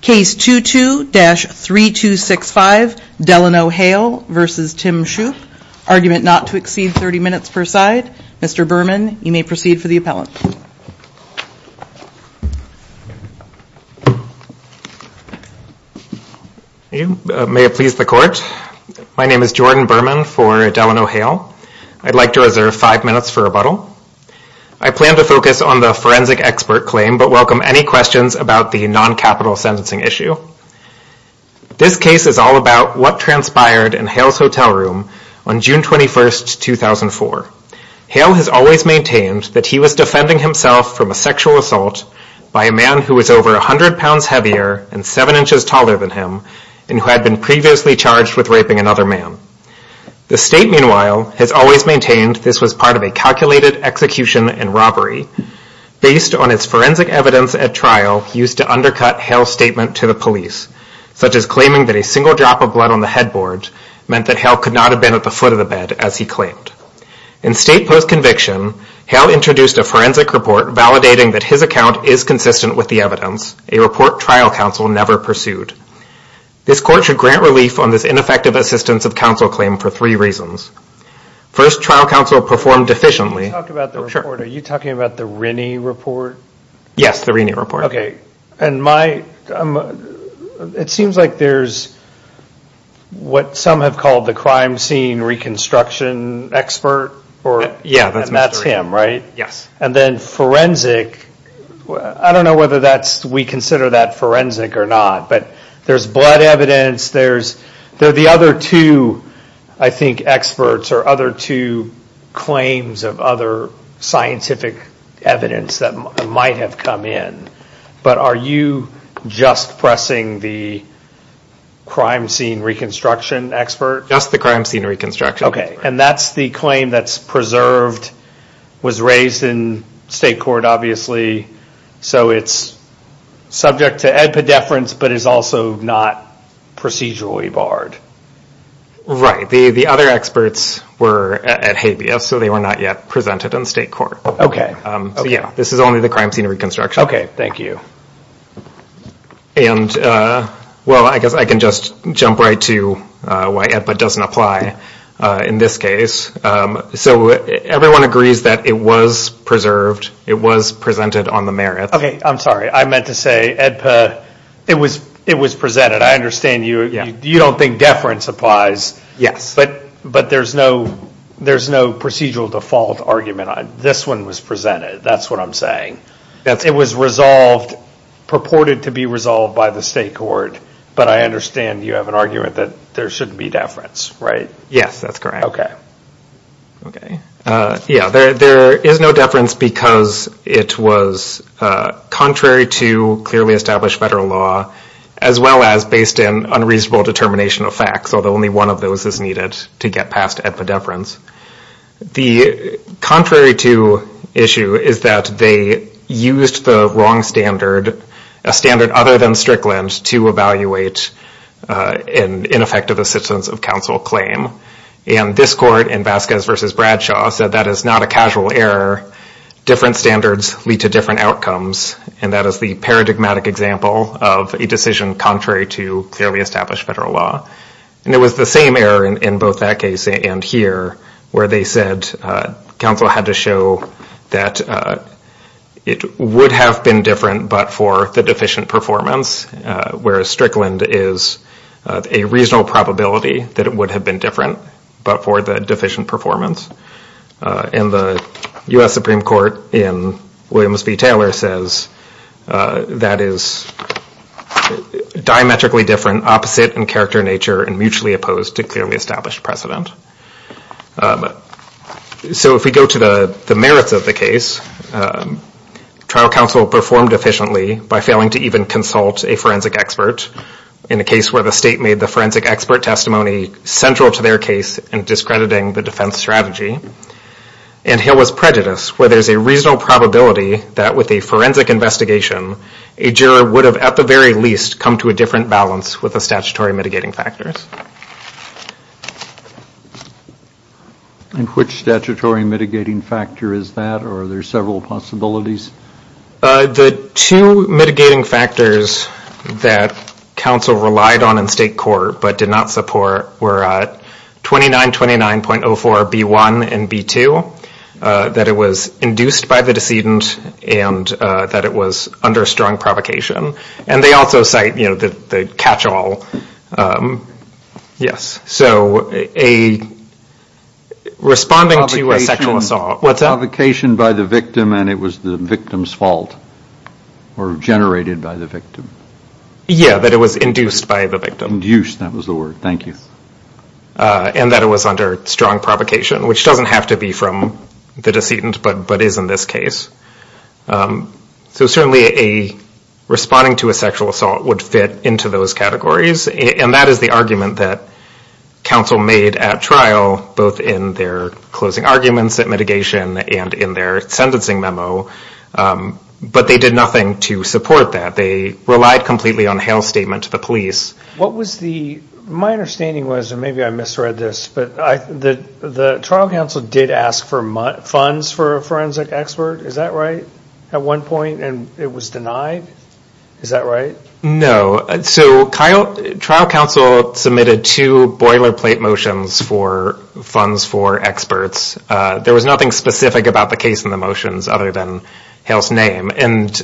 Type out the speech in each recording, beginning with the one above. Case 22-3265 Delano Hale v. Tim Shoop, argument not to exceed 30 minutes per side. Mr. Berman, you may proceed for the appellant. May it please the court. My name is Jordan Berman for Delano Hale. I'd like to reserve 5 minutes for rebuttal. I plan to focus on the forensic expert claim, but welcome any questions about the non-capital sentencing issue. This case is all about what transpired in Hale's hotel room on June 21, 2004. Hale has always maintained that he was defending himself from a sexual assault by a man who was over 100 pounds heavier and 7 inches taller than him and who had been previously charged with raping another man. The state, meanwhile, has always maintained this was part of a calculated execution and robbery based on its forensic evidence at trial used to undercut Hale's statement to the police, such as claiming that a single drop of blood on the headboard meant that Hale could not have been at the foot of the bed, as he claimed. In state post-conviction, Hale introduced a forensic report validating that his account is consistent with the evidence, a report trial counsel never pursued. This court should grant relief on this ineffective assistance of counsel claim for three reasons. First, trial counsel performed efficiently. Are you talking about the Rinney report? Yes, the Rinney report. It seems like there's what some have called the crime scene reconstruction expert, and that's him, right? Yes. And then forensic, I don't know whether we consider that forensic or not, but there's blood evidence, there are the other two, I think, experts or other two claims of other scientific evidence that might have come in. But are you just pressing the crime scene reconstruction expert? Just the crime scene reconstruction expert. Okay, and that's the claim that's preserved, was raised in state court, obviously, so it's subject to EDPA deference, but is also not procedurally barred. Right, the other experts were at habeas, so they were not yet presented in state court. Okay. Yeah, this is only the crime scene reconstruction. Okay, thank you. And, well, I guess I can just jump right to why EDPA doesn't apply in this case. So everyone agrees that it was preserved, it was presented on the merit. Okay, I'm sorry. I meant to say EDPA, it was presented. I understand you don't think deference applies. Yes. But there's no procedural default argument on it. This one was presented, that's what I'm saying. It was resolved, purported to be resolved by the state court, but I understand you have an argument that there shouldn't be deference, right? Yes, that's correct. Okay. Yeah, there is no deference because it was contrary to clearly established federal law, as well as based in unreasonable determination of facts, although only one of those is needed to get past EDPA deference. The contrary to issue is that they used the wrong standard, a standard other than Strickland, to evaluate an ineffective assistance of counsel claim. And this court in Vasquez v. Bradshaw said that is not a casual error. Different standards lead to different outcomes, and that is the paradigmatic example of a decision contrary to clearly established federal law. And it was the same error in both that case and here, where they said counsel had to show that it would have been different but for the deficient performance, whereas Strickland is a reasonable probability that it would have been different but for the deficient performance. And the U.S. Supreme Court in Williams v. Taylor says that is diametrically different, opposite in character and nature, and mutually opposed to clearly established precedent. So if we go to the merits of the case, trial counsel performed efficiently by failing to even consult a forensic expert in a case where the state made the forensic expert testimony central to their case and discrediting the defense strategy. And here was prejudice, where there is a reasonable probability that with a forensic investigation, a juror would have at the very least come to a different balance with the statutory mitigating factors. And which statutory mitigating factor is that, or are there several possibilities? The two mitigating factors that counsel relied on in state court but did not support were 2929.04B1 and B2, that it was induced by the decedent and that it was under strong provocation. And they also cite the catch-all, yes, so responding to a sexual assault, what's that? Provocation by the victim and it was the victim's fault or generated by the victim. Yeah, that it was induced by the victim. Induced, that was the word, thank you. And that it was under strong provocation, which doesn't have to be from the decedent but is in this case. So certainly a responding to a sexual assault would fit into those categories. And that is the argument that counsel made at trial, both in their closing arguments at mitigation and in their sentencing memo. But they did nothing to support that. They relied completely on a health statement to the police. What was the, my understanding was, and maybe I misread this, but the trial counsel did ask for funds for a forensic expert. Is that right? At one point and it was denied? Is that right? No, so trial counsel submitted two boilerplate motions for funds for experts. There was nothing specific about the case in the motions other than Hale's name. And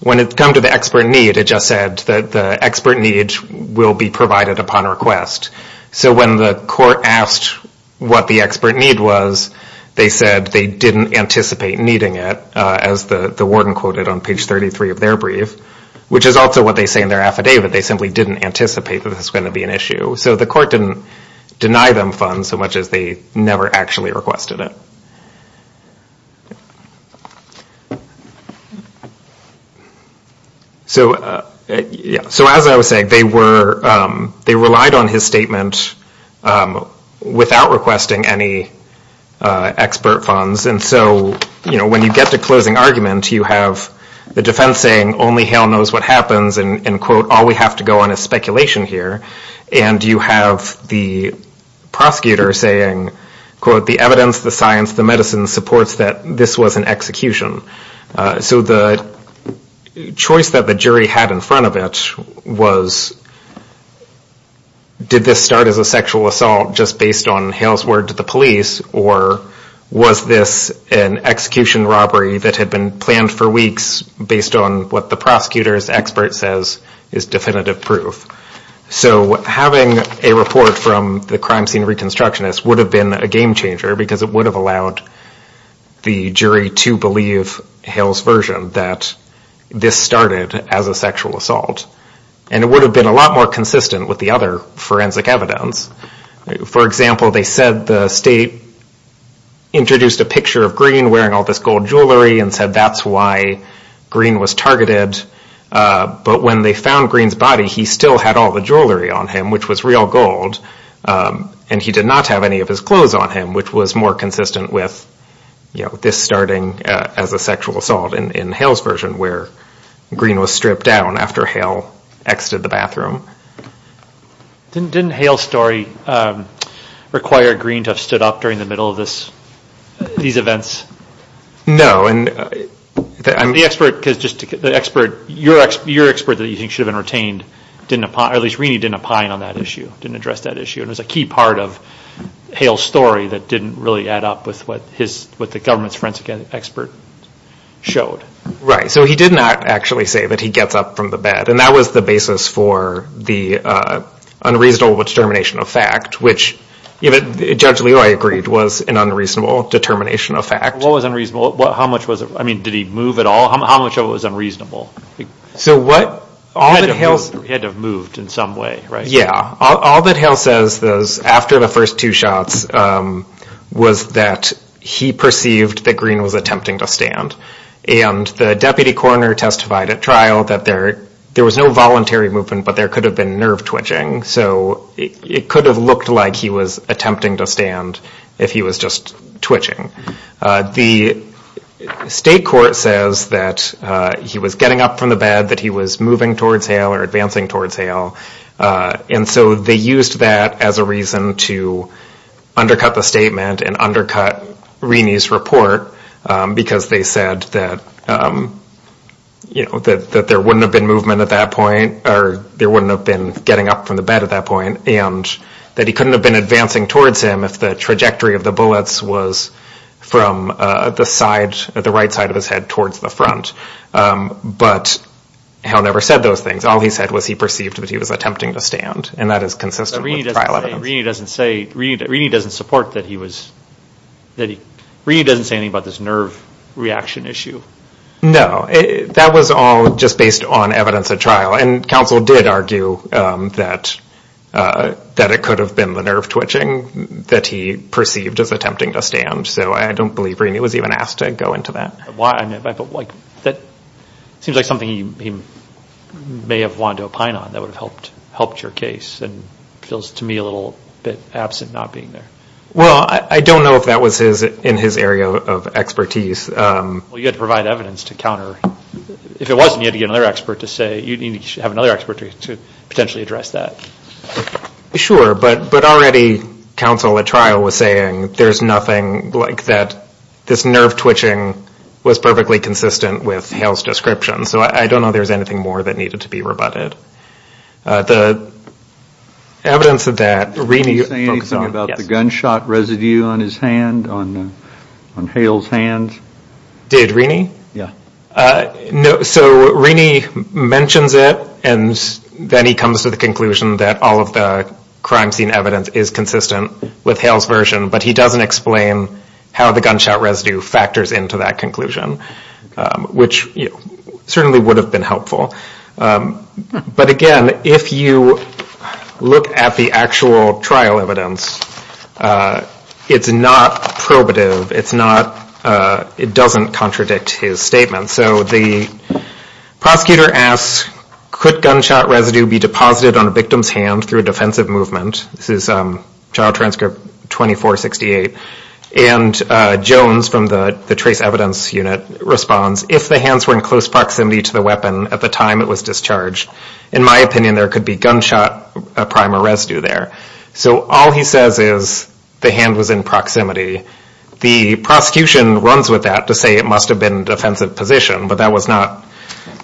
when it come to the expert need, it just said that the expert need will be provided upon request. So when the court asked what the expert need was, they said they didn't anticipate needing it. As the warden quoted on page 33 of their brief, which is also what they say in their affidavit. They simply didn't anticipate that it's going to be an issue. So the court didn't deny them funds so much as they never actually requested it. So, yeah, so as I was saying, they were, they relied on his statement without requesting any expert funds. And so, you know, when you get to closing argument, you have the defense saying only Hale knows what happens and quote, all we have to go on is speculation here. And you have the prosecutor saying, quote, the evidence, the science, the medicine supports that this was an execution. So the choice that the jury had in front of it was did this start as a sexual assault just based on Hale's word to the police or was this an execution robbery that had been planned for weeks based on what the prosecutor's expert says is definitive proof. So having a report from the crime scene reconstructionist would have been a game changer because it would have allowed the jury to believe Hale's version that this started as a sexual assault. And it would have been a lot more consistent with the other forensic evidence. For example, they said the state introduced a picture of Green wearing all this gold jewelry and said that's why Green was targeted. But when they found Green's body, he still had all the jewelry on him, which was real gold. And he did not have any of his clothes on him, which was more consistent with, you know, this starting as a sexual assault in Hale's version where Green was stripped down after Hale exited the bathroom. Didn't Hale's story require Green to have stood up during the middle of these events? No. The expert, your expert that you think should have been retained, at least, didn't opine on that issue, didn't address that issue. It was a key part of Hale's story that didn't really add up with what the government's forensic expert showed. Right. So he did not actually say that he gets up from the bed. And that was the basis for the unreasonable determination of fact, which Judge Leoy agreed was an unreasonable determination of fact. What was unreasonable? How much was it? I mean, did he move at all? How much of it was unreasonable? So what? He had to have moved in some way, right? Yeah. All that Hale says after the first two shots was that he perceived that Green was attempting to stand. And the deputy coroner testified at trial that there was no voluntary movement, but there could have been nerve twitching. So it could have looked like he was attempting to stand if he was just twitching. The state court says that he was getting up from the bed, that he was moving towards Hale or advancing towards Hale. And so they used that as a reason to undercut the statement and undercut Reney's report because they said that, you know, that there wouldn't have been movement at that point or there wouldn't have been getting up from the bed at that point and that he couldn't have been advancing towards him if the trajectory of the bullets was from the side, the right side of his head towards the front. But Hale never said those things. All he said was he perceived that he was attempting to stand and that is consistent with trial evidence. Reney doesn't say, Reney doesn't support that he was, that he, Reney doesn't say anything about this nerve reaction issue. No. That was all just based on evidence at trial. The counsel did argue that it could have been the nerve twitching that he perceived as attempting to stand. So I don't believe Reney was even asked to go into that. Why? That seems like something he may have wanted to opine on that would have helped your case and feels to me a little bit absent not being there. Well, I don't know if that was in his area of expertise. Well, you had to provide evidence to counter. If it wasn't, you had to get another expert to say, you need to have another expert to potentially address that. Sure, but already counsel at trial was saying there's nothing like that, this nerve twitching was perfectly consistent with Hale's description. So I don't know if there's anything more that needed to be rebutted. The evidence of that, Reney. Did he say anything about the gunshot residue on his hand, on Hale's hand? Did Reney? No, so Reney mentions it and then he comes to the conclusion that all of the crime scene evidence is consistent with Hale's version, but he doesn't explain how the gunshot residue factors into that conclusion, which certainly would have been helpful. But again, if you look at the actual trial evidence, it's not probative, it doesn't contradict his statement. So the prosecutor asks, could gunshot residue be deposited on a victim's hand through a defensive movement? This is trial transcript 2468. And Jones from the trace evidence unit responds, if the hands were in close proximity to the weapon at the time it was discharged, in my opinion, there could be gunshot primer residue there. So all he says is the hand was in proximity. The prosecution runs with that to say it must have been defensive position, but that was not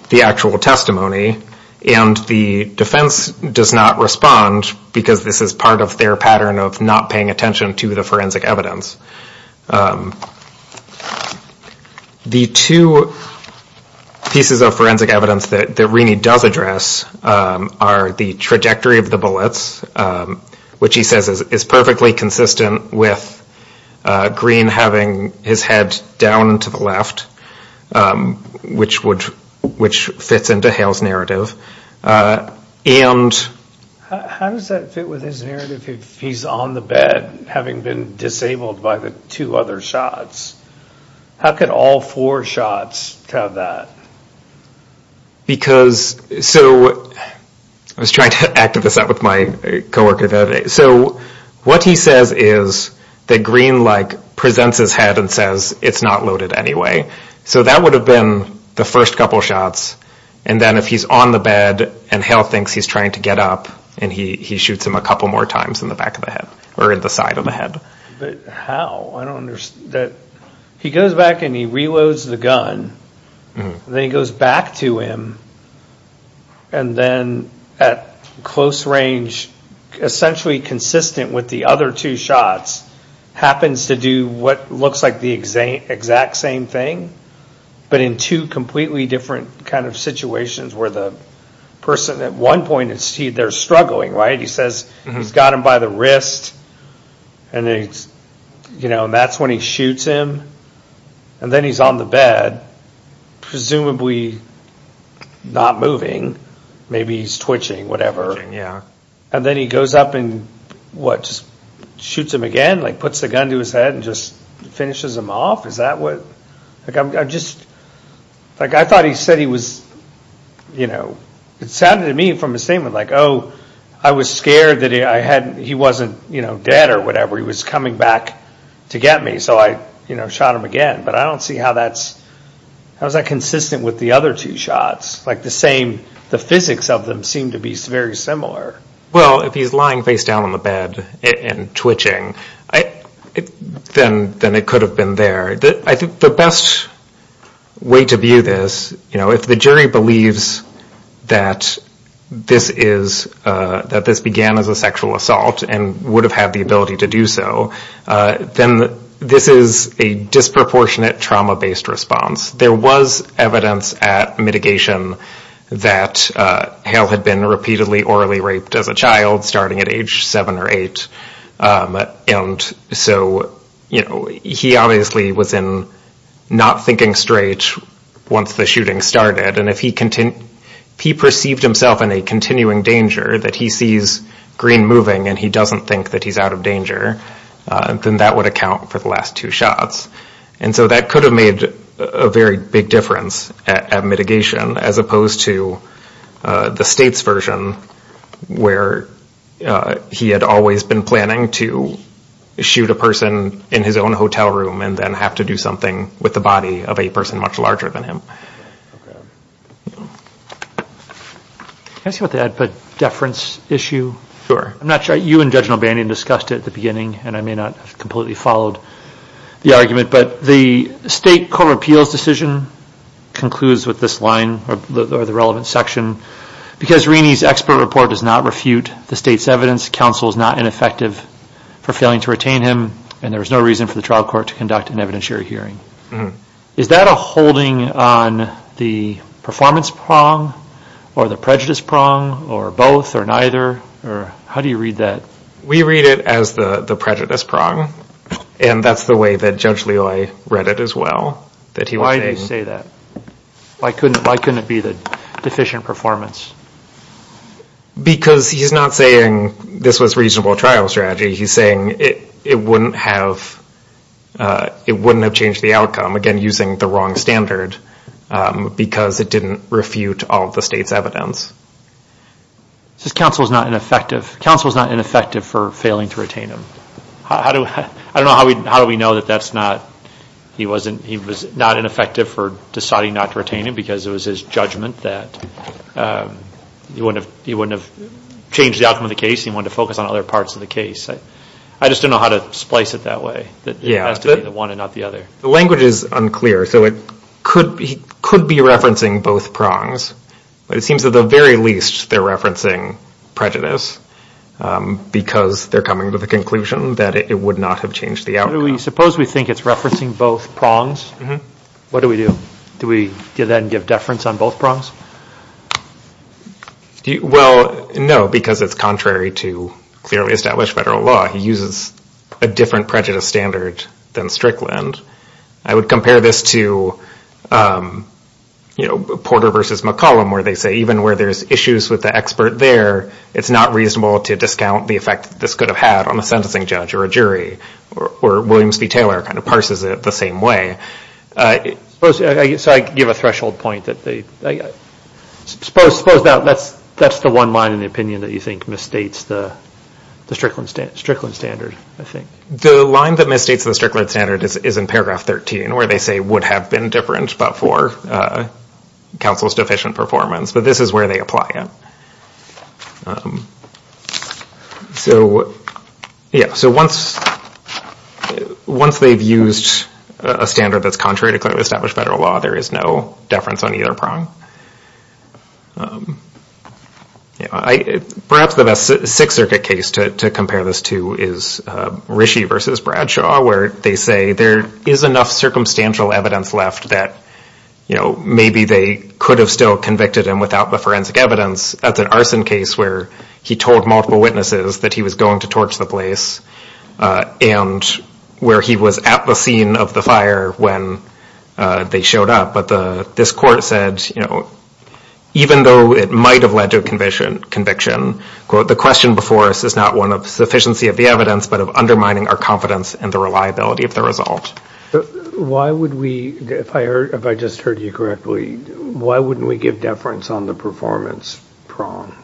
the actual testimony. And the defense does not respond because this is part of their pattern of not paying attention to the forensic evidence. The two pieces of forensic evidence that Reney does address are the trajectory of the bullets, which he says is perfectly consistent with Green having his head down to the left, which fits into Hale's narrative. And how does that fit with his narrative if he's on the bed having been disabled by the two other shots? How could all four shots have that? Because so I was trying to act this out with my co-worker. So what he says is that Green like presents his head and says it's not loaded anyway. So that would have been the first couple of shots. And then if he's on the bed and Hale thinks he's trying to get up and he shoots him a couple more times in the back of the head or in the side of the head. But how? I don't understand. He goes back and he reloads the gun. Then he goes back to him and then at close range, essentially consistent with the other two shots, happens to do what looks like the exact same thing, but in two completely different kind of situations where the person at one point is struggling, right? So he says he's got him by the wrist and that's when he shoots him. And then he's on the bed, presumably not moving. Maybe he's twitching, whatever. And then he goes up and what, just shoots him again? Like puts the gun to his head and just finishes him off? Is that what, like I just, like I thought he said he was, you know, it sounded to me from his statement like, oh, I was scared that he wasn't, you know, dead or whatever. He was coming back to get me. So I, you know, shot him again. But I don't see how that's, how is that consistent with the other two shots? Like the same, the physics of them seem to be very similar. Well, if he's lying face down on the bed and twitching, then it could have been there. I think the best way to view this, you know, if the jury believes that this is, that this began as a sexual assault and would have had the ability to do so, then this is a disproportionate trauma-based response. There was evidence at mitigation that Hale had been repeatedly orally raped as a child starting at age 7 or 8. And so, you know, he obviously was in not thinking straight once the shooting started. And if he perceived himself in a continuing danger that he sees green moving and he doesn't think that he's out of danger, then that would account for the last two shots. And so that could have made a very big difference at mitigation as opposed to the states version where he had always been planning to shoot a person in his own hotel room and then have to do something with the body of a person much larger than him. Can I say something about the deference issue? Sure. I'm not sure, you and Judge Nalbany discussed it at the beginning and I may not have completely followed the argument, but the state court of appeals decision concludes with this line or the relevant section because Reeney's expert report does not refute the state's evidence, counsel is not ineffective for failing to retain him, and there is no reason for the trial court to conduct an evidentiary hearing. Is that a holding on the performance prong or the prejudice prong or both or neither? How do you read that? We read it as the prejudice prong and that's the way that Judge Leoy read it as well. Why do you say that? Why couldn't it be the deficient performance? Because he's not saying this was reasonable trial strategy, he's saying it wouldn't have changed the outcome, again using the wrong standard because it didn't refute all of the state's evidence. Counsel is not ineffective for failing to retain him. I don't know how do we know that he was not ineffective for deciding not to retain him because it was his judgment that he wouldn't have changed the outcome of the case, he wanted to focus on other parts of the case. I just don't know how to splice it that way, that it has to be the one and not the other. The language is unclear, so he could be referencing both prongs, but it seems at the very least they're referencing prejudice because they're coming to the conclusion that it would not have changed the outcome. Suppose we think it's referencing both prongs, what do we do? Do we then give deference on both prongs? Well, no, because it's contrary to clearly established federal law. He uses a different prejudice standard than Strickland. I would compare this to Porter v. McCollum where they say even where there's issues with the expert there, it's not reasonable to discount the effect this could have had on a sentencing judge or a jury, where Williams v. Taylor kind of parses it the same way. So I give a threshold point. Suppose that's the one line in the opinion that you think misstates the Strickland standard, I think. The line that misstates the Strickland standard is in paragraph 13 where they say would have been different but for counsel's deficient performance, this is where they apply it. So once they've used a standard that's contrary to clearly established federal law, there is no deference on either prong. Perhaps the best Sixth Circuit case to compare this to is Rischie v. Bradshaw where they say there is enough circumstantial evidence left that maybe they could have still convicted him of forensic evidence. That's an arson case where he told multiple witnesses that he was going to torch the place and where he was at the scene of the fire when they showed up. But this court said, you know, even though it might have led to a conviction, quote, the question before us is not one of sufficiency of the evidence but of undermining our confidence in the reliability of the result. So why would we, if I just heard you correctly, why wouldn't we give deference on the performance prong?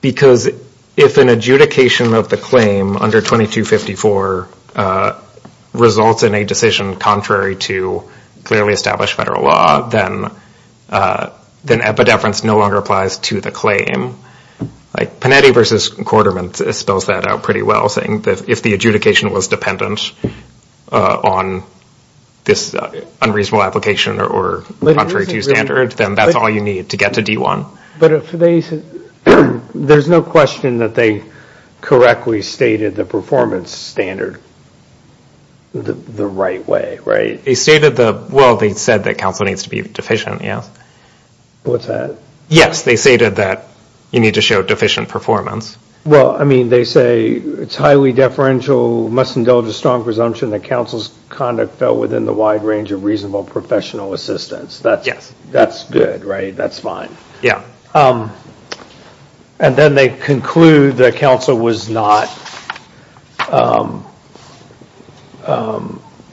Because if an adjudication of the claim under 2254 results in a decision contrary to clearly established federal law, then epideference no longer applies to the claim. Like Panetti v. Quarterman spells that out pretty well, saying that if the adjudication was dependent on this unreasonable application or contrary to standard, then that's all you need to get to D1. But there's no question that they correctly stated the performance standard the right way, right? They stated the, well, they said that counsel needs to be deficient, yes. What's that? Yes, they stated that you need to show deficient performance. Well, I mean, they say it's highly deferential, must indulge a strong presumption that counsel's conduct fell within the wide range of reasonable professional assistance. Yes. That's good, right? That's fine. Yeah. And then they conclude that counsel was not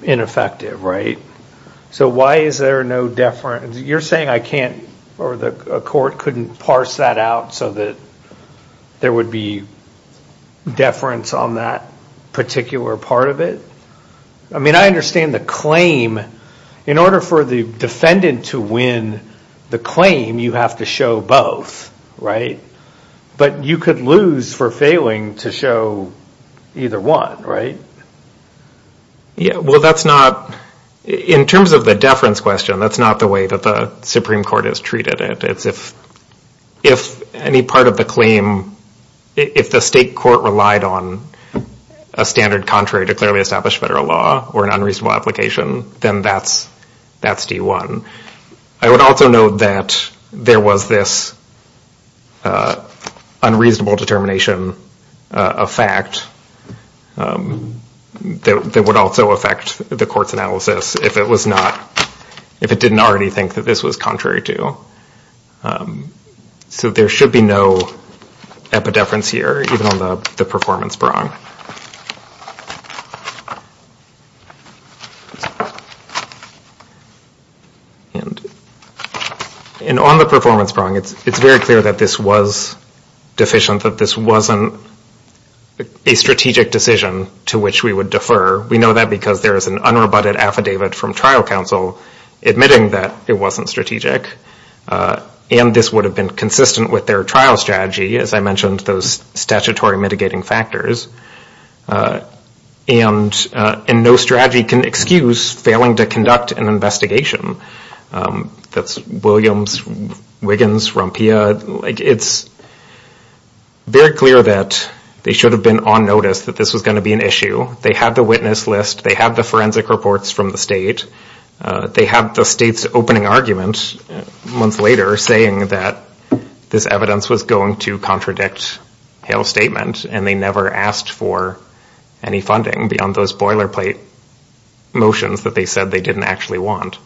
ineffective, right? So why is there no deference? You're saying I can't, or the court couldn't parse that out so that there would be deference on that particular part of it? I mean, I understand the claim. In order for the defendant to win the claim, you have to show both, right? But you could lose for failing to show either one, right? Well, that's not, in terms of the deference question, that's not the way that the Supreme Court has treated it. It's if any part of the claim, if the state court relied on a standard contrary to clearly established federal law or an unreasonable application, then that's D1. I would also note that there was this unreasonable determination effect that would also affect the court's analysis if it was not, if it didn't already think that this was contrary to. So there should be no epideference here, even on the performance prong. And on the performance prong, it's very clear that this was deficient, that this wasn't a strategic decision to which we would defer. We know that because there is an unrebutted affidavit from trial counsel admitting that it wasn't strategic. And this would have been consistent with their trial strategy, as I mentioned, those statutory mitigating factors. And no strategy can excuse failing to conduct an investigation. That's Williams, Wiggins, Rompia. It's very clear that they should have been on notice that this was going to be an issue. They had the witness list. They had the forensic reports from the state. They had the state's opening argument months later saying that this evidence was going to contradict Hale's statement. And they never asked for any funding beyond those boilerplate motions that they said they didn't actually want.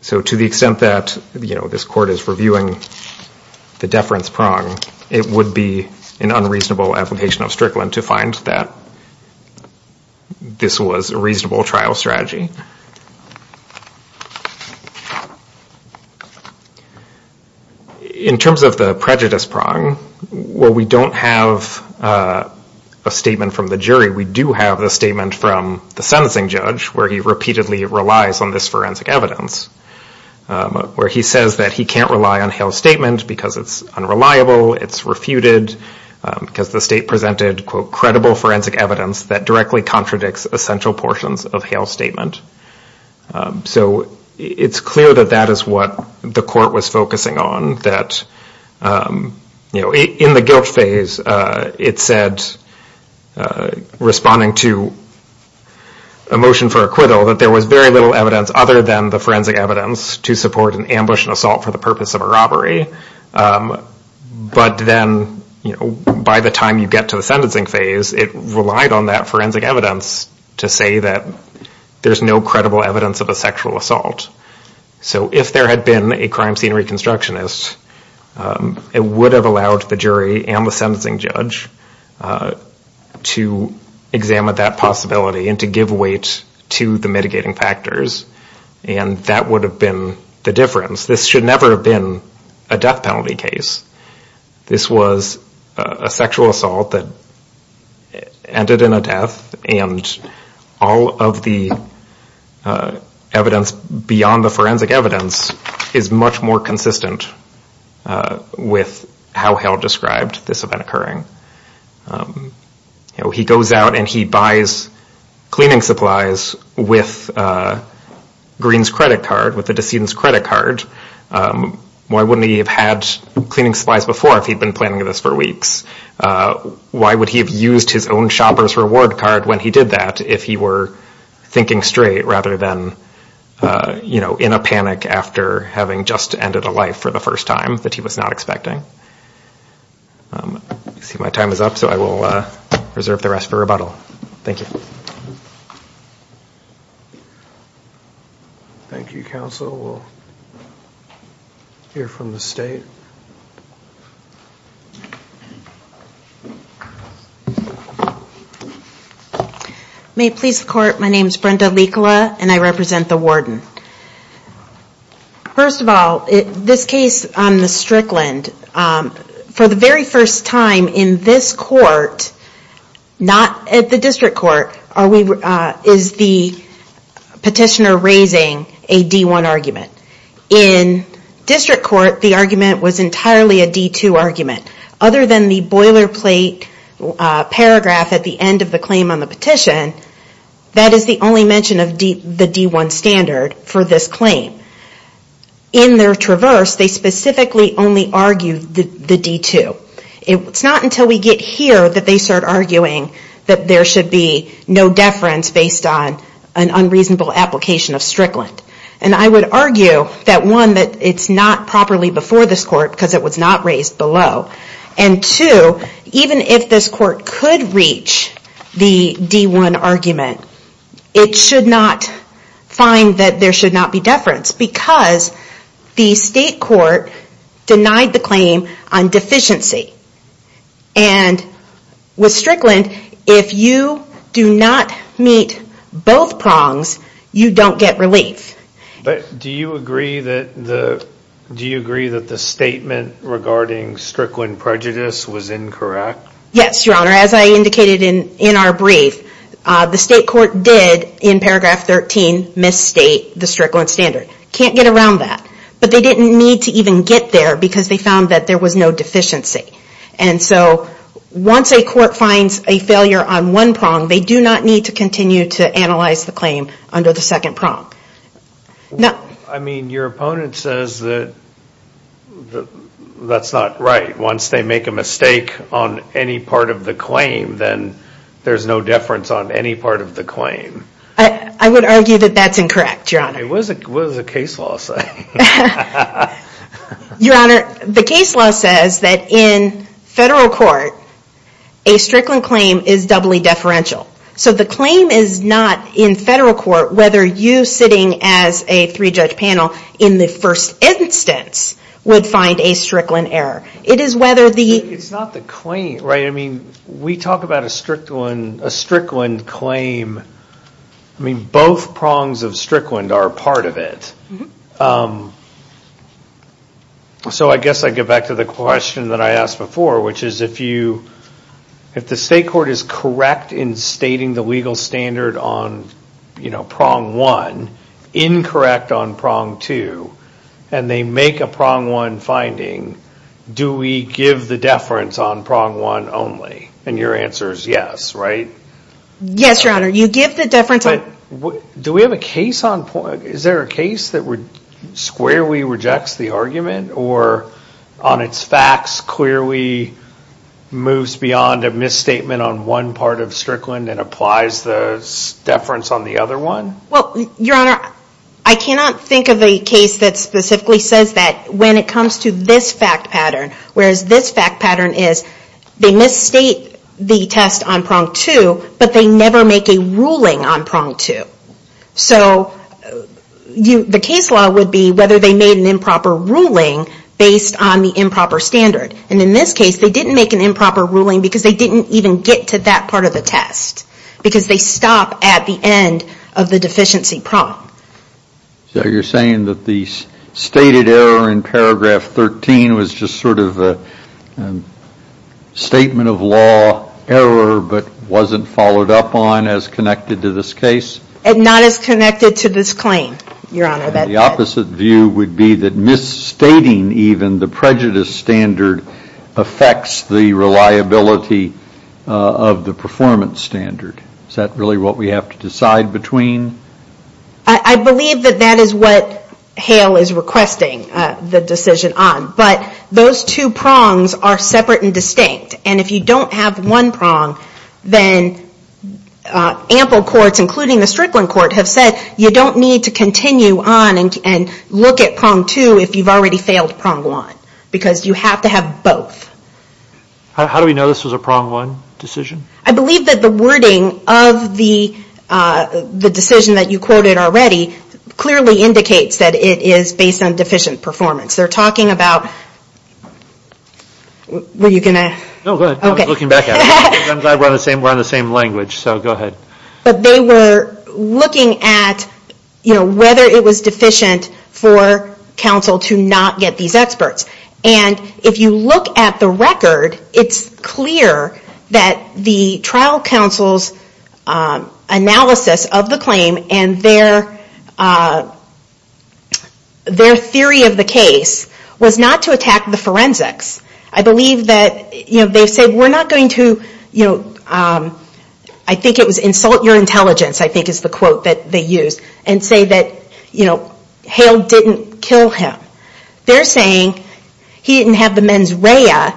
So to the extent that this court is reviewing the deference prong, it would be an unreasonable application of Strickland to find that this was a reasonable trial strategy. In terms of the prejudice prong, while we don't have a statement from the jury, we do have a statement from the sentencing judge where he repeatedly relies on this forensic evidence. Where he says that he can't rely on Hale's statement because it's unreliable, it's refuted, because the state presented, quote, credible forensic evidence that directly contradicts essential portions of Hale's statement. So it's clear that that is what the court was focusing on. In the guilt phase, it said, responding to a motion for acquittal, that there was very little evidence other than the forensic evidence to support an ambush and assault for the purpose of a robbery. But then by the time you get to the sentencing phase, it relied on that forensic evidence to say that there's no credible evidence of a sexual assault. So if there had been a crime scene reconstructionist, it would have allowed the jury and the sentencing judge to examine that possibility and to give weight to the mitigating factors. And that would have been the difference. This should never have been a death penalty case. This was a sexual assault that ended in a death and all of the evidence beyond the forensic evidence is much more consistent with how Hale described this event occurring. He goes out and he buys cleaning supplies with Green's credit card, with the decedent's credit card. Why wouldn't he have had cleaning supplies before if he'd been planning this for weeks? Why would he have used his own shopper's reward card when he did that if he were thinking straight rather than, you know, in a panic after having just ended a life for the first time that he was not expecting? I see my time is up, so I will reserve the rest for rebuttal. Thank you. Thank you, counsel. We'll hear from the state. May it please the court, my name is Brenda Likala and I represent the warden. First of all, this case on the Strickland, for the very first time in this court, not at the district court, is the petitioner raising a D-1 argument. In district court, the argument was entirely a D-2 argument. Other than the boilerplate paragraph at the end of the claim on the petition, that is the only mention of the D-1 standard for this claim. In their traverse, they specifically only argue the D-2. It's not until we get here that they start arguing that there should be no deference based on an unreasonable application of Strickland. And I would argue that, one, that it's not properly before this court because it was not raised below. And two, even if this court could reach the D-1 argument, it should not find that there should not be deference because the state court denied the claim on deficiency. And with Strickland, if you do not meet both prongs, you don't get relief. But do you agree that the statement regarding Strickland prejudice was incorrect? Yes, Your Honor. As I indicated in our brief, the state court did, in paragraph 13, misstate the Strickland standard. Can't get around that. But they didn't need to even get there because they found that there was no deficiency. And so once a court finds a failure on one prong, they do not need to continue to analyze the claim under the second prong. I mean, your opponent says that that's not right. Once they make a mistake on any part of the claim, then there's no deference on any part of the claim. I would argue that that's incorrect, Your Honor. What does the case law say? Your Honor, the case law says that in federal court, a Strickland claim is doubly deferential. So the claim is not in federal court whether you sitting as a three-judge panel in the first instance would find a Strickland error. It is whether the... It's not the claim, right? I mean, we talk about a Strickland claim. I mean, both prongs of Strickland are part of it. So I guess I get back to the question that I asked before, which is if the state court is correct in stating the legal standard on prong one, incorrect on prong two, and they make a prong one finding, do we give the deference on prong one only? And your answer is yes, right? Yes, Your Honor. You give the deference on... Do we have a case on... Is there a case that squarely rejects the argument or on its facts clearly moves beyond a misstatement on one part of Strickland and applies the deference on the other one? Well, Your Honor, I cannot think of a case that specifically says that when it comes to this fact pattern, whereas this fact pattern is they misstate the test on prong two, but they never make a ruling on prong two. So the case law would be whether they made an improper ruling based on the improper standard. And in this case, they didn't make an improper ruling because they didn't even get to that part of the test because they stop at the end of the deficiency prong. So you're saying that the stated error in paragraph 13 was just sort of a statement of law error but wasn't followed up on as connected to this case? Not as connected to this claim, Your Honor. The opposite view would be that misstating even the prejudice standard affects the reliability of the performance standard. Is that really what we have to decide between? I believe that that is what Hale is requesting the decision on. But those two prongs are separate and distinct. And if you don't have one prong, then ample courts, including the Strickland court, have said you don't need to continue on and look at prong two if you've already failed prong one. Because you have to have both. How do we know this was a prong one decision? I believe that the wording of the decision that you quoted already clearly indicates that it is based on deficient performance. They're talking about... Were you going to... No, go ahead. I was looking back at it. I'm glad we're on the same language, so go ahead. But they were looking at whether it was deficient for counsel to not get these experts. And if you look at the record, it's clear that the trial counsel's analysis of the claim and their theory of the case was not to attack the forensics. I believe that they said we're not going to... I think it was insult your intelligence, I think is the quote that they used, and say that Hale didn't kill him. They're saying he didn't have the mens rea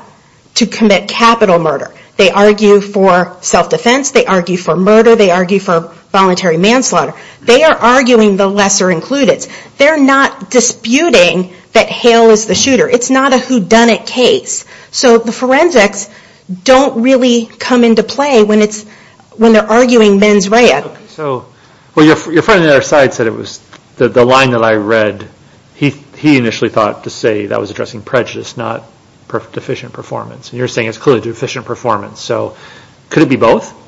to commit capital murder. They argue for self-defense. They argue for murder. They argue for voluntary manslaughter. They are arguing the lesser included. They're not disputing that Hale is the shooter. It's not a whodunit case. So the forensics don't really come into play when they're arguing mens rea. Well, your friend on the other side said it was... The line that I read, he initially thought to say that was addressing prejudice, not deficient performance. You're saying it's clearly deficient performance. So could it be both?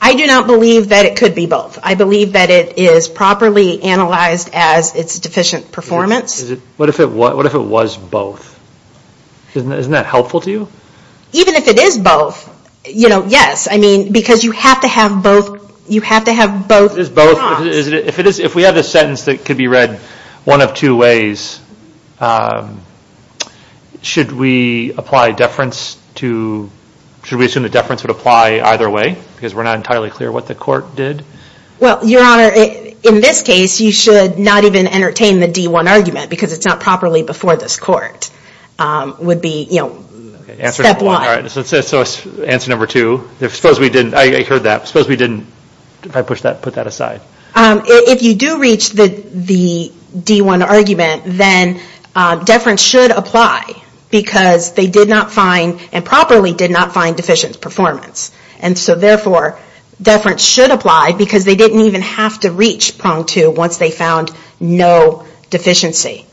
I do not believe that it could be both. I believe that it is properly analyzed as it's deficient performance. What if it was both? Isn't that helpful to you? Even if it is both, you know, yes. I mean, because you have to have both. You have to have both. If we have this sentence that could be read one of two ways, should we apply deference to... Should we assume that deference would apply either way? Because we're not entirely clear what the court did? Well, your honor, in this case, you should not even entertain the D1 argument because it's not properly before this court. Deference would be, you know, step one. So answer number two. Suppose we didn't... I heard that. Suppose we didn't... If I push that, put that aside. If you do reach the D1 argument, then deference should apply because they did not find, and properly did not find deficient performance. And so therefore, deference should apply because they didn't even have to reach prong two once they found no deficiency.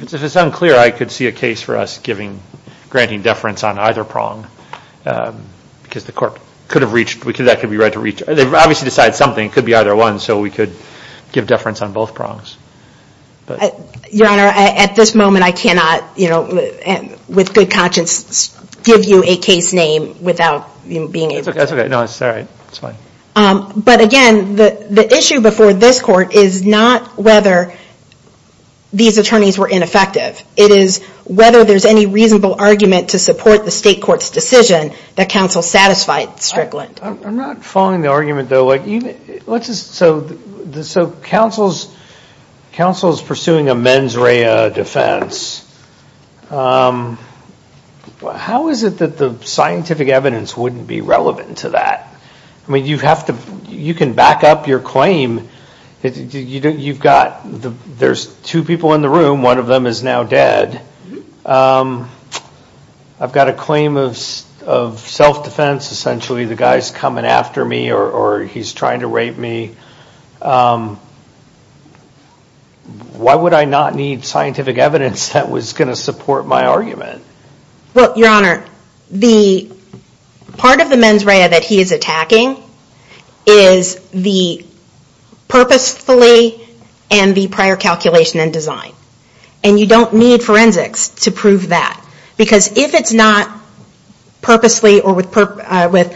It's unclear I could see a case for us granting deference on either prong because the court could have reached... That could be read to reach... They've obviously decided something. It could be either one, so we could give deference on both prongs. Your honor, at this moment, I cannot, with good conscience, give you a case name without being able to... That's okay. No, it's all right. But again, the issue before this court is not whether these attorneys were ineffective. It is whether there's any reasonable argument to support the state court's decision that counsel satisfied Strickland. I'm not following the argument, though. Let's just... So counsel's... Counsel's pursuing a mens rea defense. How is it that the scientific evidence wouldn't be relevant to that? I mean, you have to... You can back up your claim. You've got... There's two people in the room. I've got a claim of self-defense. Essentially, the guy's coming after me or he's trying to rape me. Why would I not need scientific evidence that was going to support my argument? Well, your honor, the... Part of the mens rea that he is attacking is the purposefully and the prior calculation and design. We need forensics to prove that. Because if it's not purposely or with prior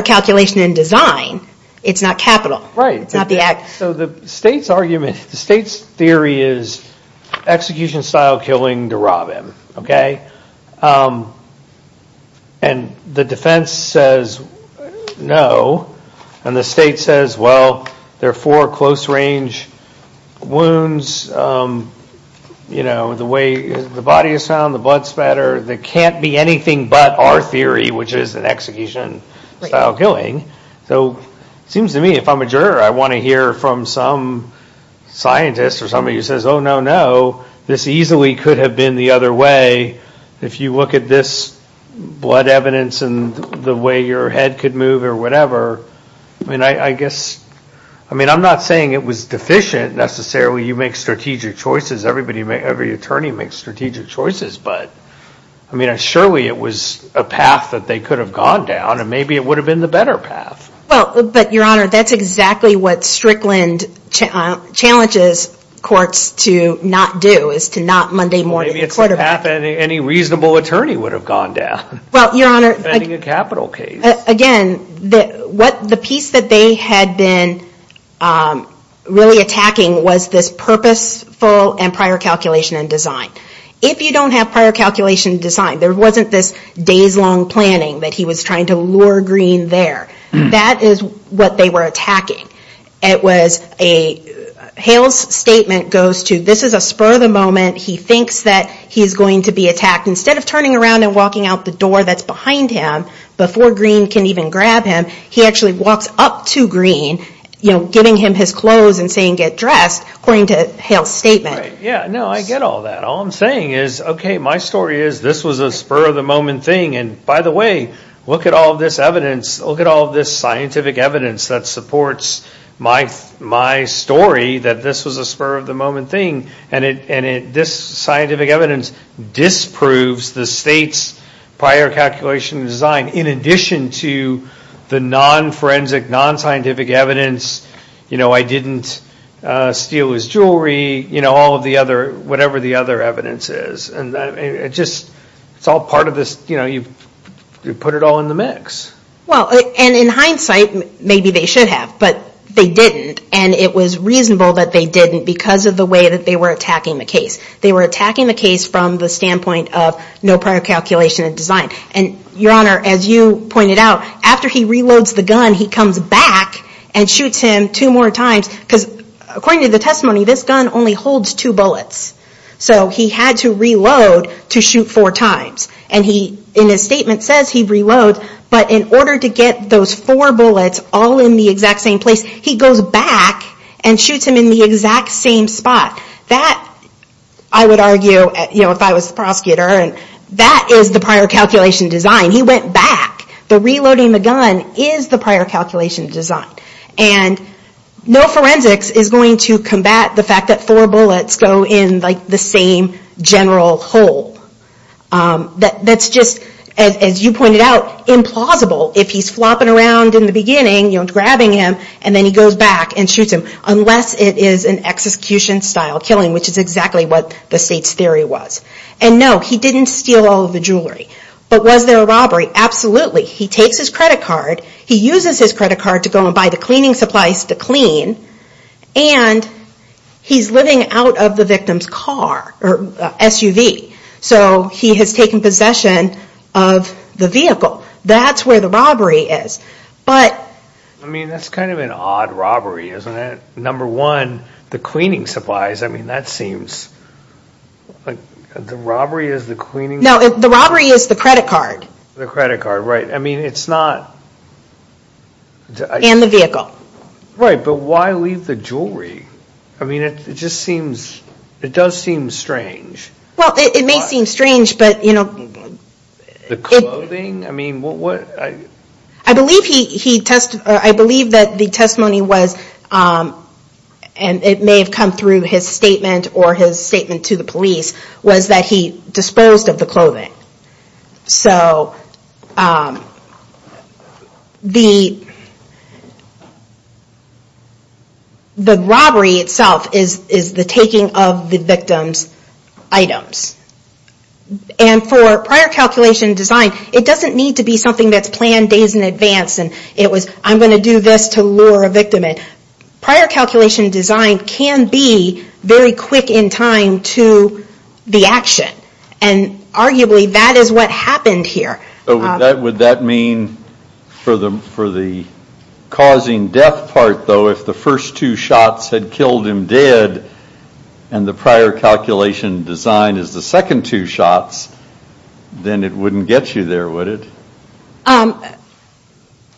calculation and design, it's not capital. Right. So the state's argument... The state's theory is execution-style killing to rob him, okay? And the defense says no. And the state says, well, there are four close-range wounds. The way the body is found, the blood spatter. There can't be anything but our theory, which is an execution-style killing. So it seems to me, if I'm a juror, I want to hear from some scientist or somebody who says, oh, no, no. This easily could have been the other way. If you look at this blood evidence and the way your head could move or whatever, I mean, I guess... I mean, I'm not saying it was deficient necessarily. You make strategic choices. Every attorney makes strategic choices. But, I mean, surely it was a path that they could have gone down, and maybe it would have been the better path. Well, but, Your Honor, that's exactly what Strickland challenges courts to not do, is to not Monday morning... Maybe it's a path any reasonable attorney would have gone down. Well, Your Honor... Defending a capital case. Again, the piece that they had been really attacking was this purposeful and prior calculation and design. If you don't have prior calculation and design, there wasn't this days-long planning that he was trying to lure Greene there. That is what they were attacking. It was a... Hale's statement goes to, this is a spur of the moment. He thinks that he's going to be attacked. Instead of turning around and walking out the door that's behind him before Greene can even grab him, he actually walks up to Greene, giving him his clothes and saying, get dressed, according to Hale's statement. Right, yeah, no, I get all that. All I'm saying is, okay, my story is this was a spur of the moment thing, and by the way, look at all this evidence. Look at all this scientific evidence that supports my story that this was a spur of the moment thing, and this scientific evidence disproves the state's prior calculation and design, in addition to the non-forensic, non-scientific evidence, you know, I didn't steal his jewelry, you know, all of the other, whatever the other evidence is. It's all part of this, you know, you put it all in the mix. Well, and in hindsight, maybe they should have, but they didn't, and it was reasonable that they didn't because of the way that they were attacking the case. They were attacking the case from the standpoint of no prior calculation and design. And, Your Honor, as you pointed out, after he reloads the gun, he goes back and shoots him two more times, because according to the testimony, this gun only holds two bullets, so he had to reload to shoot four times. And he, in his statement, says he reloads, but in order to get those four bullets all in the exact same place, he goes back and shoots him in the exact same spot. That, I would argue, you know, if I was the prosecutor, that is the prior calculation and design. He went back. The reloading the gun is the prior calculation and design. And no forensics is going to combat the fact that four bullets go in, like, the same general hole. That's just, as you pointed out, implausible if he's flopping around in the beginning, you know, grabbing him, and then he goes back and shoots him, unless it is an execution-style killing, which is exactly what the State's theory was. And no, he didn't steal all of the jewelry. But was there a robbery? He takes his credit card. He uses his credit card to go and buy the cleaning supplies to clean. And he's living out of the victim's car, or SUV. So he has taken possession of the vehicle. That's where the robbery is. But... I mean, that's kind of an odd robbery, isn't it? Number one, the cleaning supplies. I mean, that seems... The robbery is the cleaning... No, the robbery is the credit card. The credit card, right. I mean, it's not... And the vehicle. Right, but why leave the jewelry? I mean, it just seems... It does seem strange. Well, it may seem strange, but, you know... The clothing? I mean, what... I believe he... I believe that the testimony was... And it may have come through his statement, or his statement to the police, was that he disposed of the clothing. So... The... The robbery itself is the taking of the victim's items. And for prior calculation design, it doesn't need to be something that's planned days in advance, and it was, I'm going to do this to lure a victim in. Prior calculation design can be very quick in time to the action. And arguably, that is what happened here. Would that mean for the causing death part, though, if the first two shots had killed him dead, and the prior calculation design is the second two shots, then it wouldn't get you there, would it?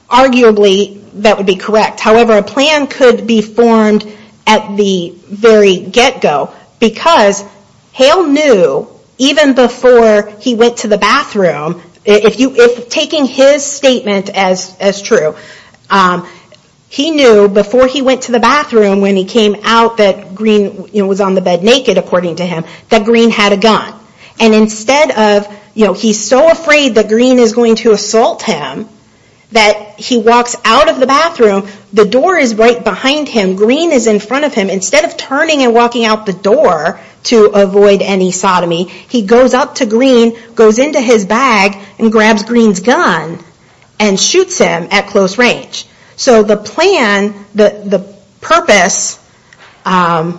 Arguably, that would be correct. However, a plan could be formed at the very get-go, because Hale knew, even before he went to the bathroom, if taking his statement as true, he knew before he went to the bathroom, when he came out that Green was on the bed naked, according to him, that Green had a gun. And instead of... He's so afraid that Green is going to assault him, that he walks out of the bathroom, the door is right behind him. Green is in front of him. Instead of turning and walking out the door, to avoid any sodomy, he goes up to Green, goes into his bag, and grabs Green's gun, and shoots him at close range. So the plan, the purpose, and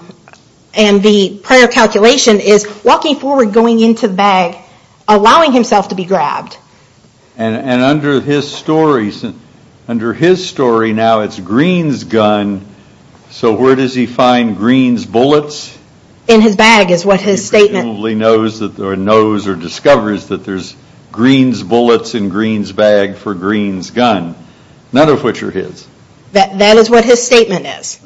the prior calculation is walking forward, going into the bag, allowing himself to be grabbed. And under his story, now it's Green's gun, so where does he find Green's bullets? In his bag, is what his statement... He presumably knows, or discovers, that there's Green's bullets in Green's bag for Green's gun. None of which are his. That is what his statement is.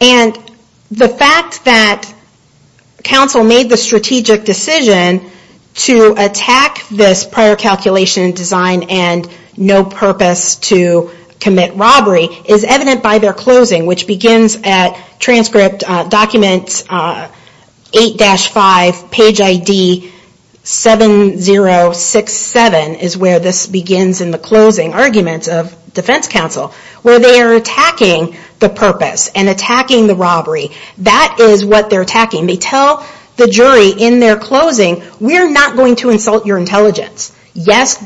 And the fact that Council made the strategic decision to attack this prior calculation and design, and no purpose to commit robbery, is evident by their closing, which begins at transcript document 8-5, page ID 7067, is where this begins in the closing arguments of Defense Council, where they are attacking the purpose, and attacking the robbery. That is what they're attacking. They tell the jury in their closing, we're not going to insult your intelligence. Yes,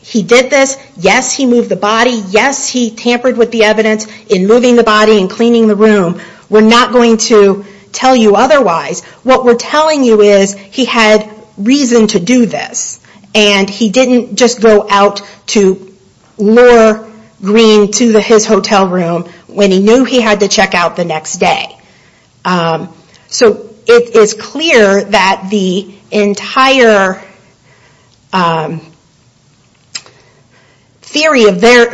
he did this. Yes, he moved the body. Yes, he tampered with the evidence in moving the body and cleaning the room. We're not going to tell you otherwise. What we're telling you is, he had reason to do this. And he didn't just go out to lure Green to his hotel room when he knew he had to check out the next day. So it is clear that the entire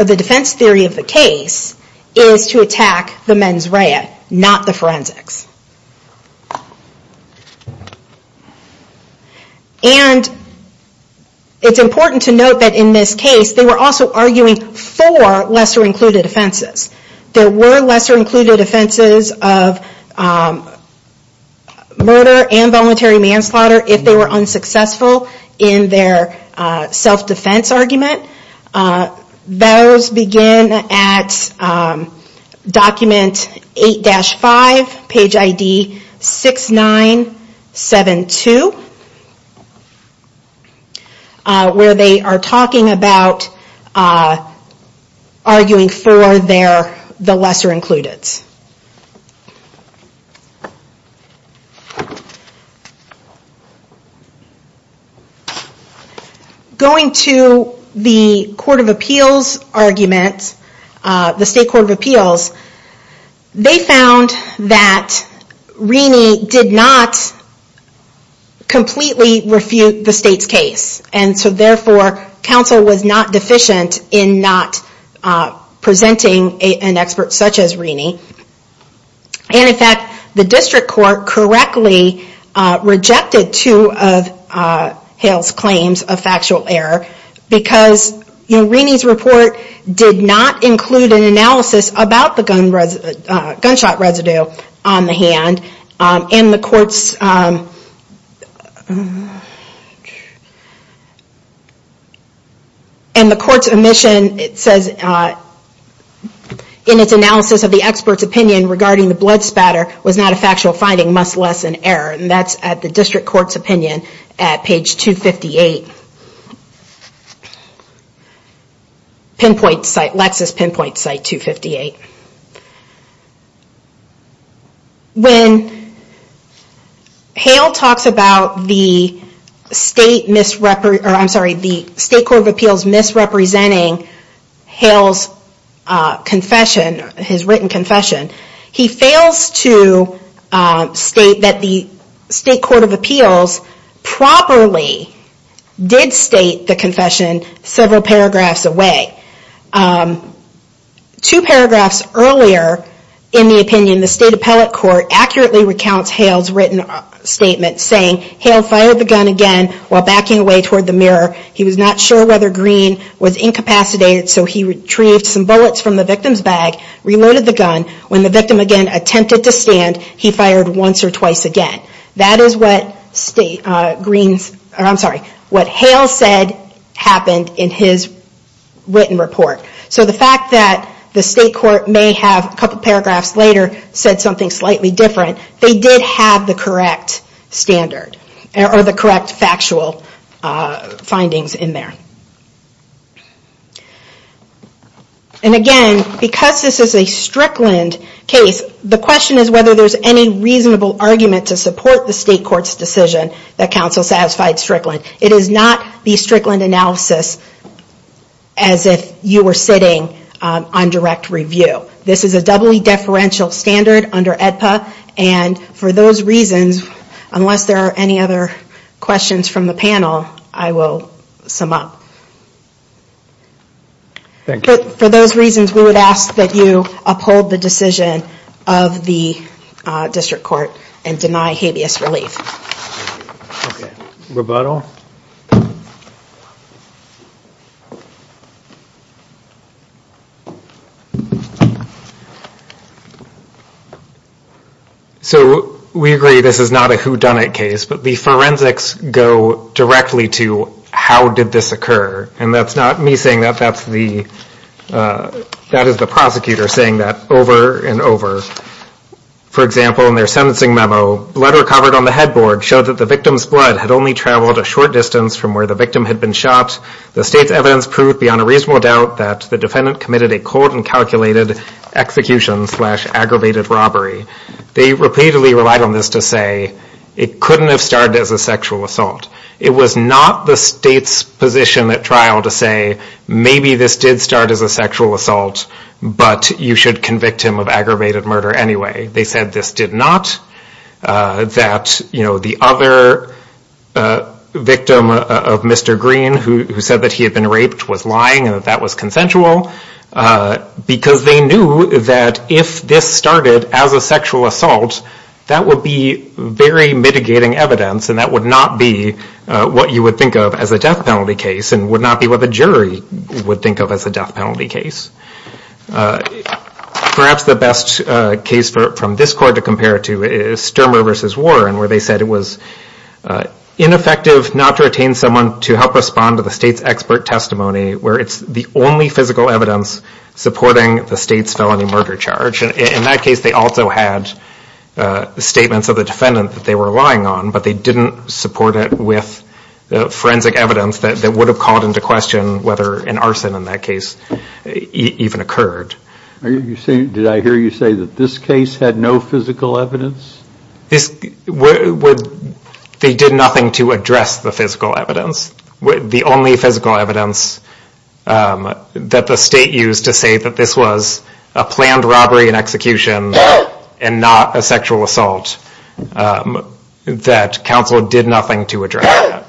defense theory of the case is to attack the mens rea, not the forensics. And it's important to note that in this case, they were also arguing for lesser included offenses. There were lesser included offenses of murder and voluntary manslaughter, if they were unsuccessful. In their self-defense argument, those begin at document 8-5, page ID 6972, where they are talking about arguing for the lesser included. Going to the Court of Appeals argument, the State Court of Appeals, they found that Renie did not completely refute the state's case. And so therefore, counsel was not deficient in not presenting an expert such as Renie. And in fact, the district court correctly rejected two of Hale's claims of factual error, because Renie's report did not include an analysis about the gunshot residue on the hand. And the court's omission, it says, in its analysis of the expert's opinion regarding the blood spatter, was less than error. And that's at the district court's opinion at page 258, Lexis Pinpoint site 258. When Hale talks about the State Court of Appeals misrepresenting Hale's confession, his written confession, he fails to state that the State Court of Appeals properly did state the confession several paragraphs away. Two paragraphs earlier in the opinion, the State Appellate Court accurately recounts Hale's written statement saying Hale fired the gun again while backing away toward the mirror. He was not sure whether Green was incapacitated, so he retrieved some bullets from the victim's bag, reloaded the gun. When the victim again attempted to stand, he fired once or twice again. That is what Hale said happened in his written report. So the fact that the State Court may have a couple paragraphs later said something slightly different, they did have the correct standard or the correct factual findings in there. And again, because this is a Strickland case, the question is whether there's any reasonable argument to support the State Court's decision that counsel satisfied Strickland. It is not the Strickland analysis as if you were sitting on direct review. This is a doubly deferential standard under AEDPA, and for those reasons, unless there are any other questions from the panel, I will sum up. Thank you. For those reasons, we would ask that you uphold the decision of the District Court and deny habeas relief. Okay. Rebuttal? So we agree this is not a whodunit case, but the forensics go directly to how did this occur? And that's not me saying that, that is the prosecutor saying that over and over. For example, in their sentencing memo, letter covered on the headboard showed that the victim's blood had only traveled a short distance from where the victim had been shot. The State's evidence proved beyond a reasonable doubt that the defendant committed a, quote, uncalculated execution slash aggravated robbery. They repeatedly relied on this to say it couldn't have started as a sexual assault. It was the State's position at trial to say maybe this did start as a sexual assault, but you should convict him of aggravated murder anyway. They said this did not. That, you know, the other victim of Mr. Green who said that he had been raped was lying and that that was consensual because they knew that if this started as a sexual assault, that would be very mitigating evidence and that would not be what you would think of as a death penalty case and would not be what the jury would think of as a death penalty case. Perhaps the best case from this court to compare it to is Stirmer v. Warren where they said it was ineffective not to retain someone to help respond to the State's expert testimony where it's the only physical evidence supporting the State's felony murder charge. In that case, they also had statements of the defendant that they were relying on, but they didn't support it with forensic evidence that would have called into question whether an arson in that case even occurred. Did I hear you say that this case had no physical evidence? They did nothing to address the physical evidence. The only physical evidence that the State used to say that this was a planned robbery and execution and not a sexual assault that counsel did nothing to address that.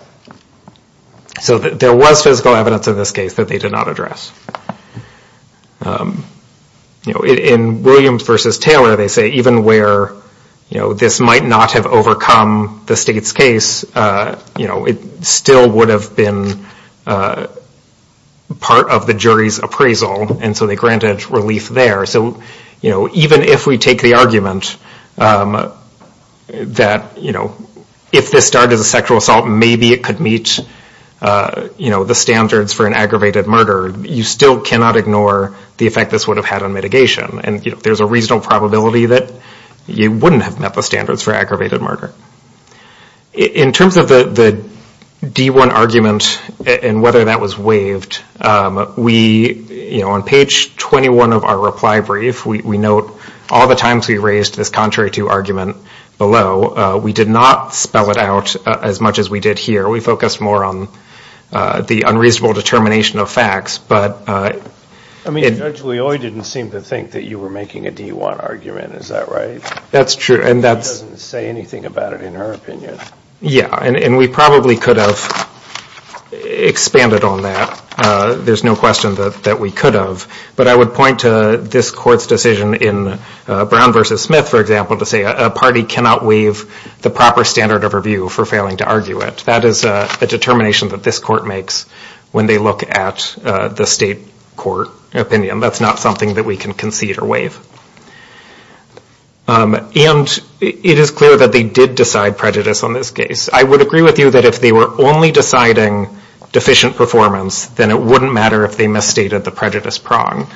So there was physical evidence in this case that they did not address. In Williams v. Taylor they say even where this might not have overcome the State's case, it still would have been part of the jury's appraisal and so they granted relief there. Even if we take the argument that if this started as a sexual assault, maybe it could meet the standards for an aggravated murder, you still cannot ignore the effect this would have had on mitigation. There's a reasonable probability that you wouldn't have met the standards for aggravated murder. In terms of the D1 argument and whether that was waived, we, on page 21 of our reply brief, we note all the times we raised this contrary to argument below. We did not spell it out as much as we did here. We focused more on the unreasonable determination of facts. I mean, Judge Leoy didn't seem to think that you were making a D1 argument, is that right? That's true. She doesn't say anything about it in her opinion. Yeah, and we probably could have expanded on that. There's no question that we could have, but I would point to this court's decision in Brown v. Smith, for example, to say a party cannot waive the proper standard of review for failing to argue it. That is a determination that this court makes when they look at the state court opinion. That's not something that we can concede or waive. And it is clear that they did decide prejudice on this case. I would agree with you that if they were only deciding deficient performance, then it wouldn't matter if they misstated the prejudice prong.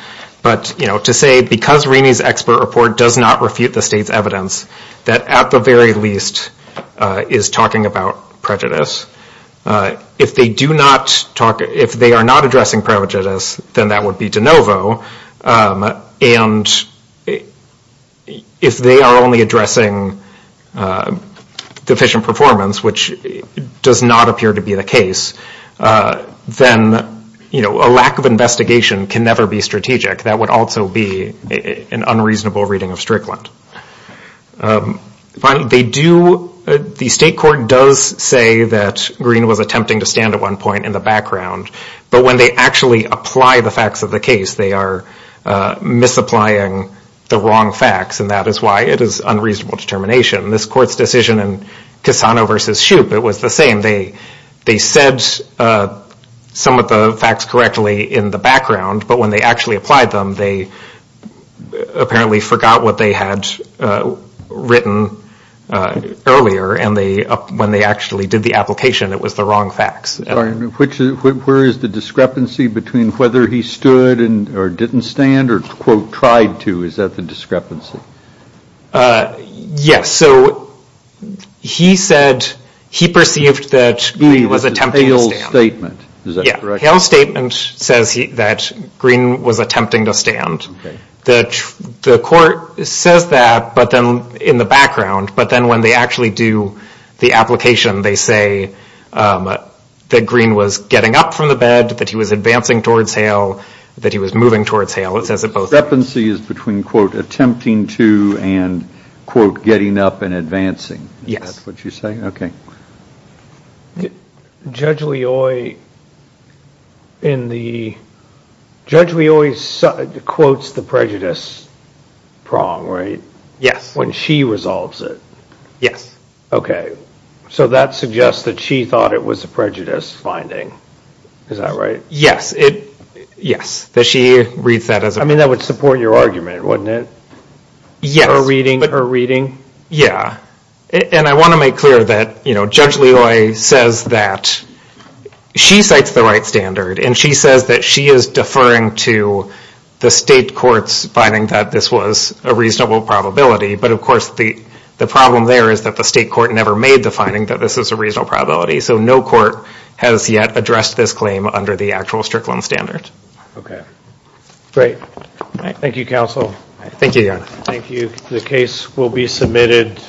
But, you know, to say because Raney's expert report does not refute the state's evidence, that at the very least is talking about prejudice. If they do not talk, if they are not addressing prejudice, then that would be de novo. And if they are only addressing deficient performance, which does not appear to be the case, then, you know, a lack of investigation can never be strategic. That would also be an unreasonable reading of Strickland. Finally, they do, the state court does say that Greene was attempting to stand at one point in the background. But when they actually apply the facts of the case, they are misapplying the wrong facts. And that is why it is unreasonable determination. This court's decision in Cassano versus Shoup, it was the same. They said some of the facts correctly in the background, but when they actually applied them, they apparently forgot what they had written earlier. And when they actually did the application, it was the wrong facts. Where is the discrepancy between whether he stood or didn't stand or, quote, tried to? Is that the discrepancy? Yes, so he said, he perceived that Greene was attempting to stand. Hale's statement, is that correct? Hale's statement says that Greene was attempting to stand. The court says that in the background, but then when they actually do the application, they say that Greene was getting up from the bed, that he was advancing towards Hale, that he was moving towards Hale. The discrepancy is between, quote, attempting to and, quote, getting up and advancing. Yes. Is that what you're saying? Okay. Judge Leoy quotes the prejudice prong, right? Yes. When she resolves it. Yes. Okay, so that suggests that she thought it was a prejudice finding. Is that right? Yes. Does she read that as a prejudice finding? I mean, that would support your argument, wouldn't it? Yes. Her reading? Yeah, and I want to make clear that, you know, Judge Leoy says that she cites the right standard, and she says that she is deferring to the state courts finding that this was a reasonable probability, but, of course, the problem there is that the state court never made the finding that this is a reasonable probability, so no court has yet addressed this claim under the actual Strickland standard. Great. Thank you, counsel. Thank you, Your Honor. Thank you. The case will be submitted.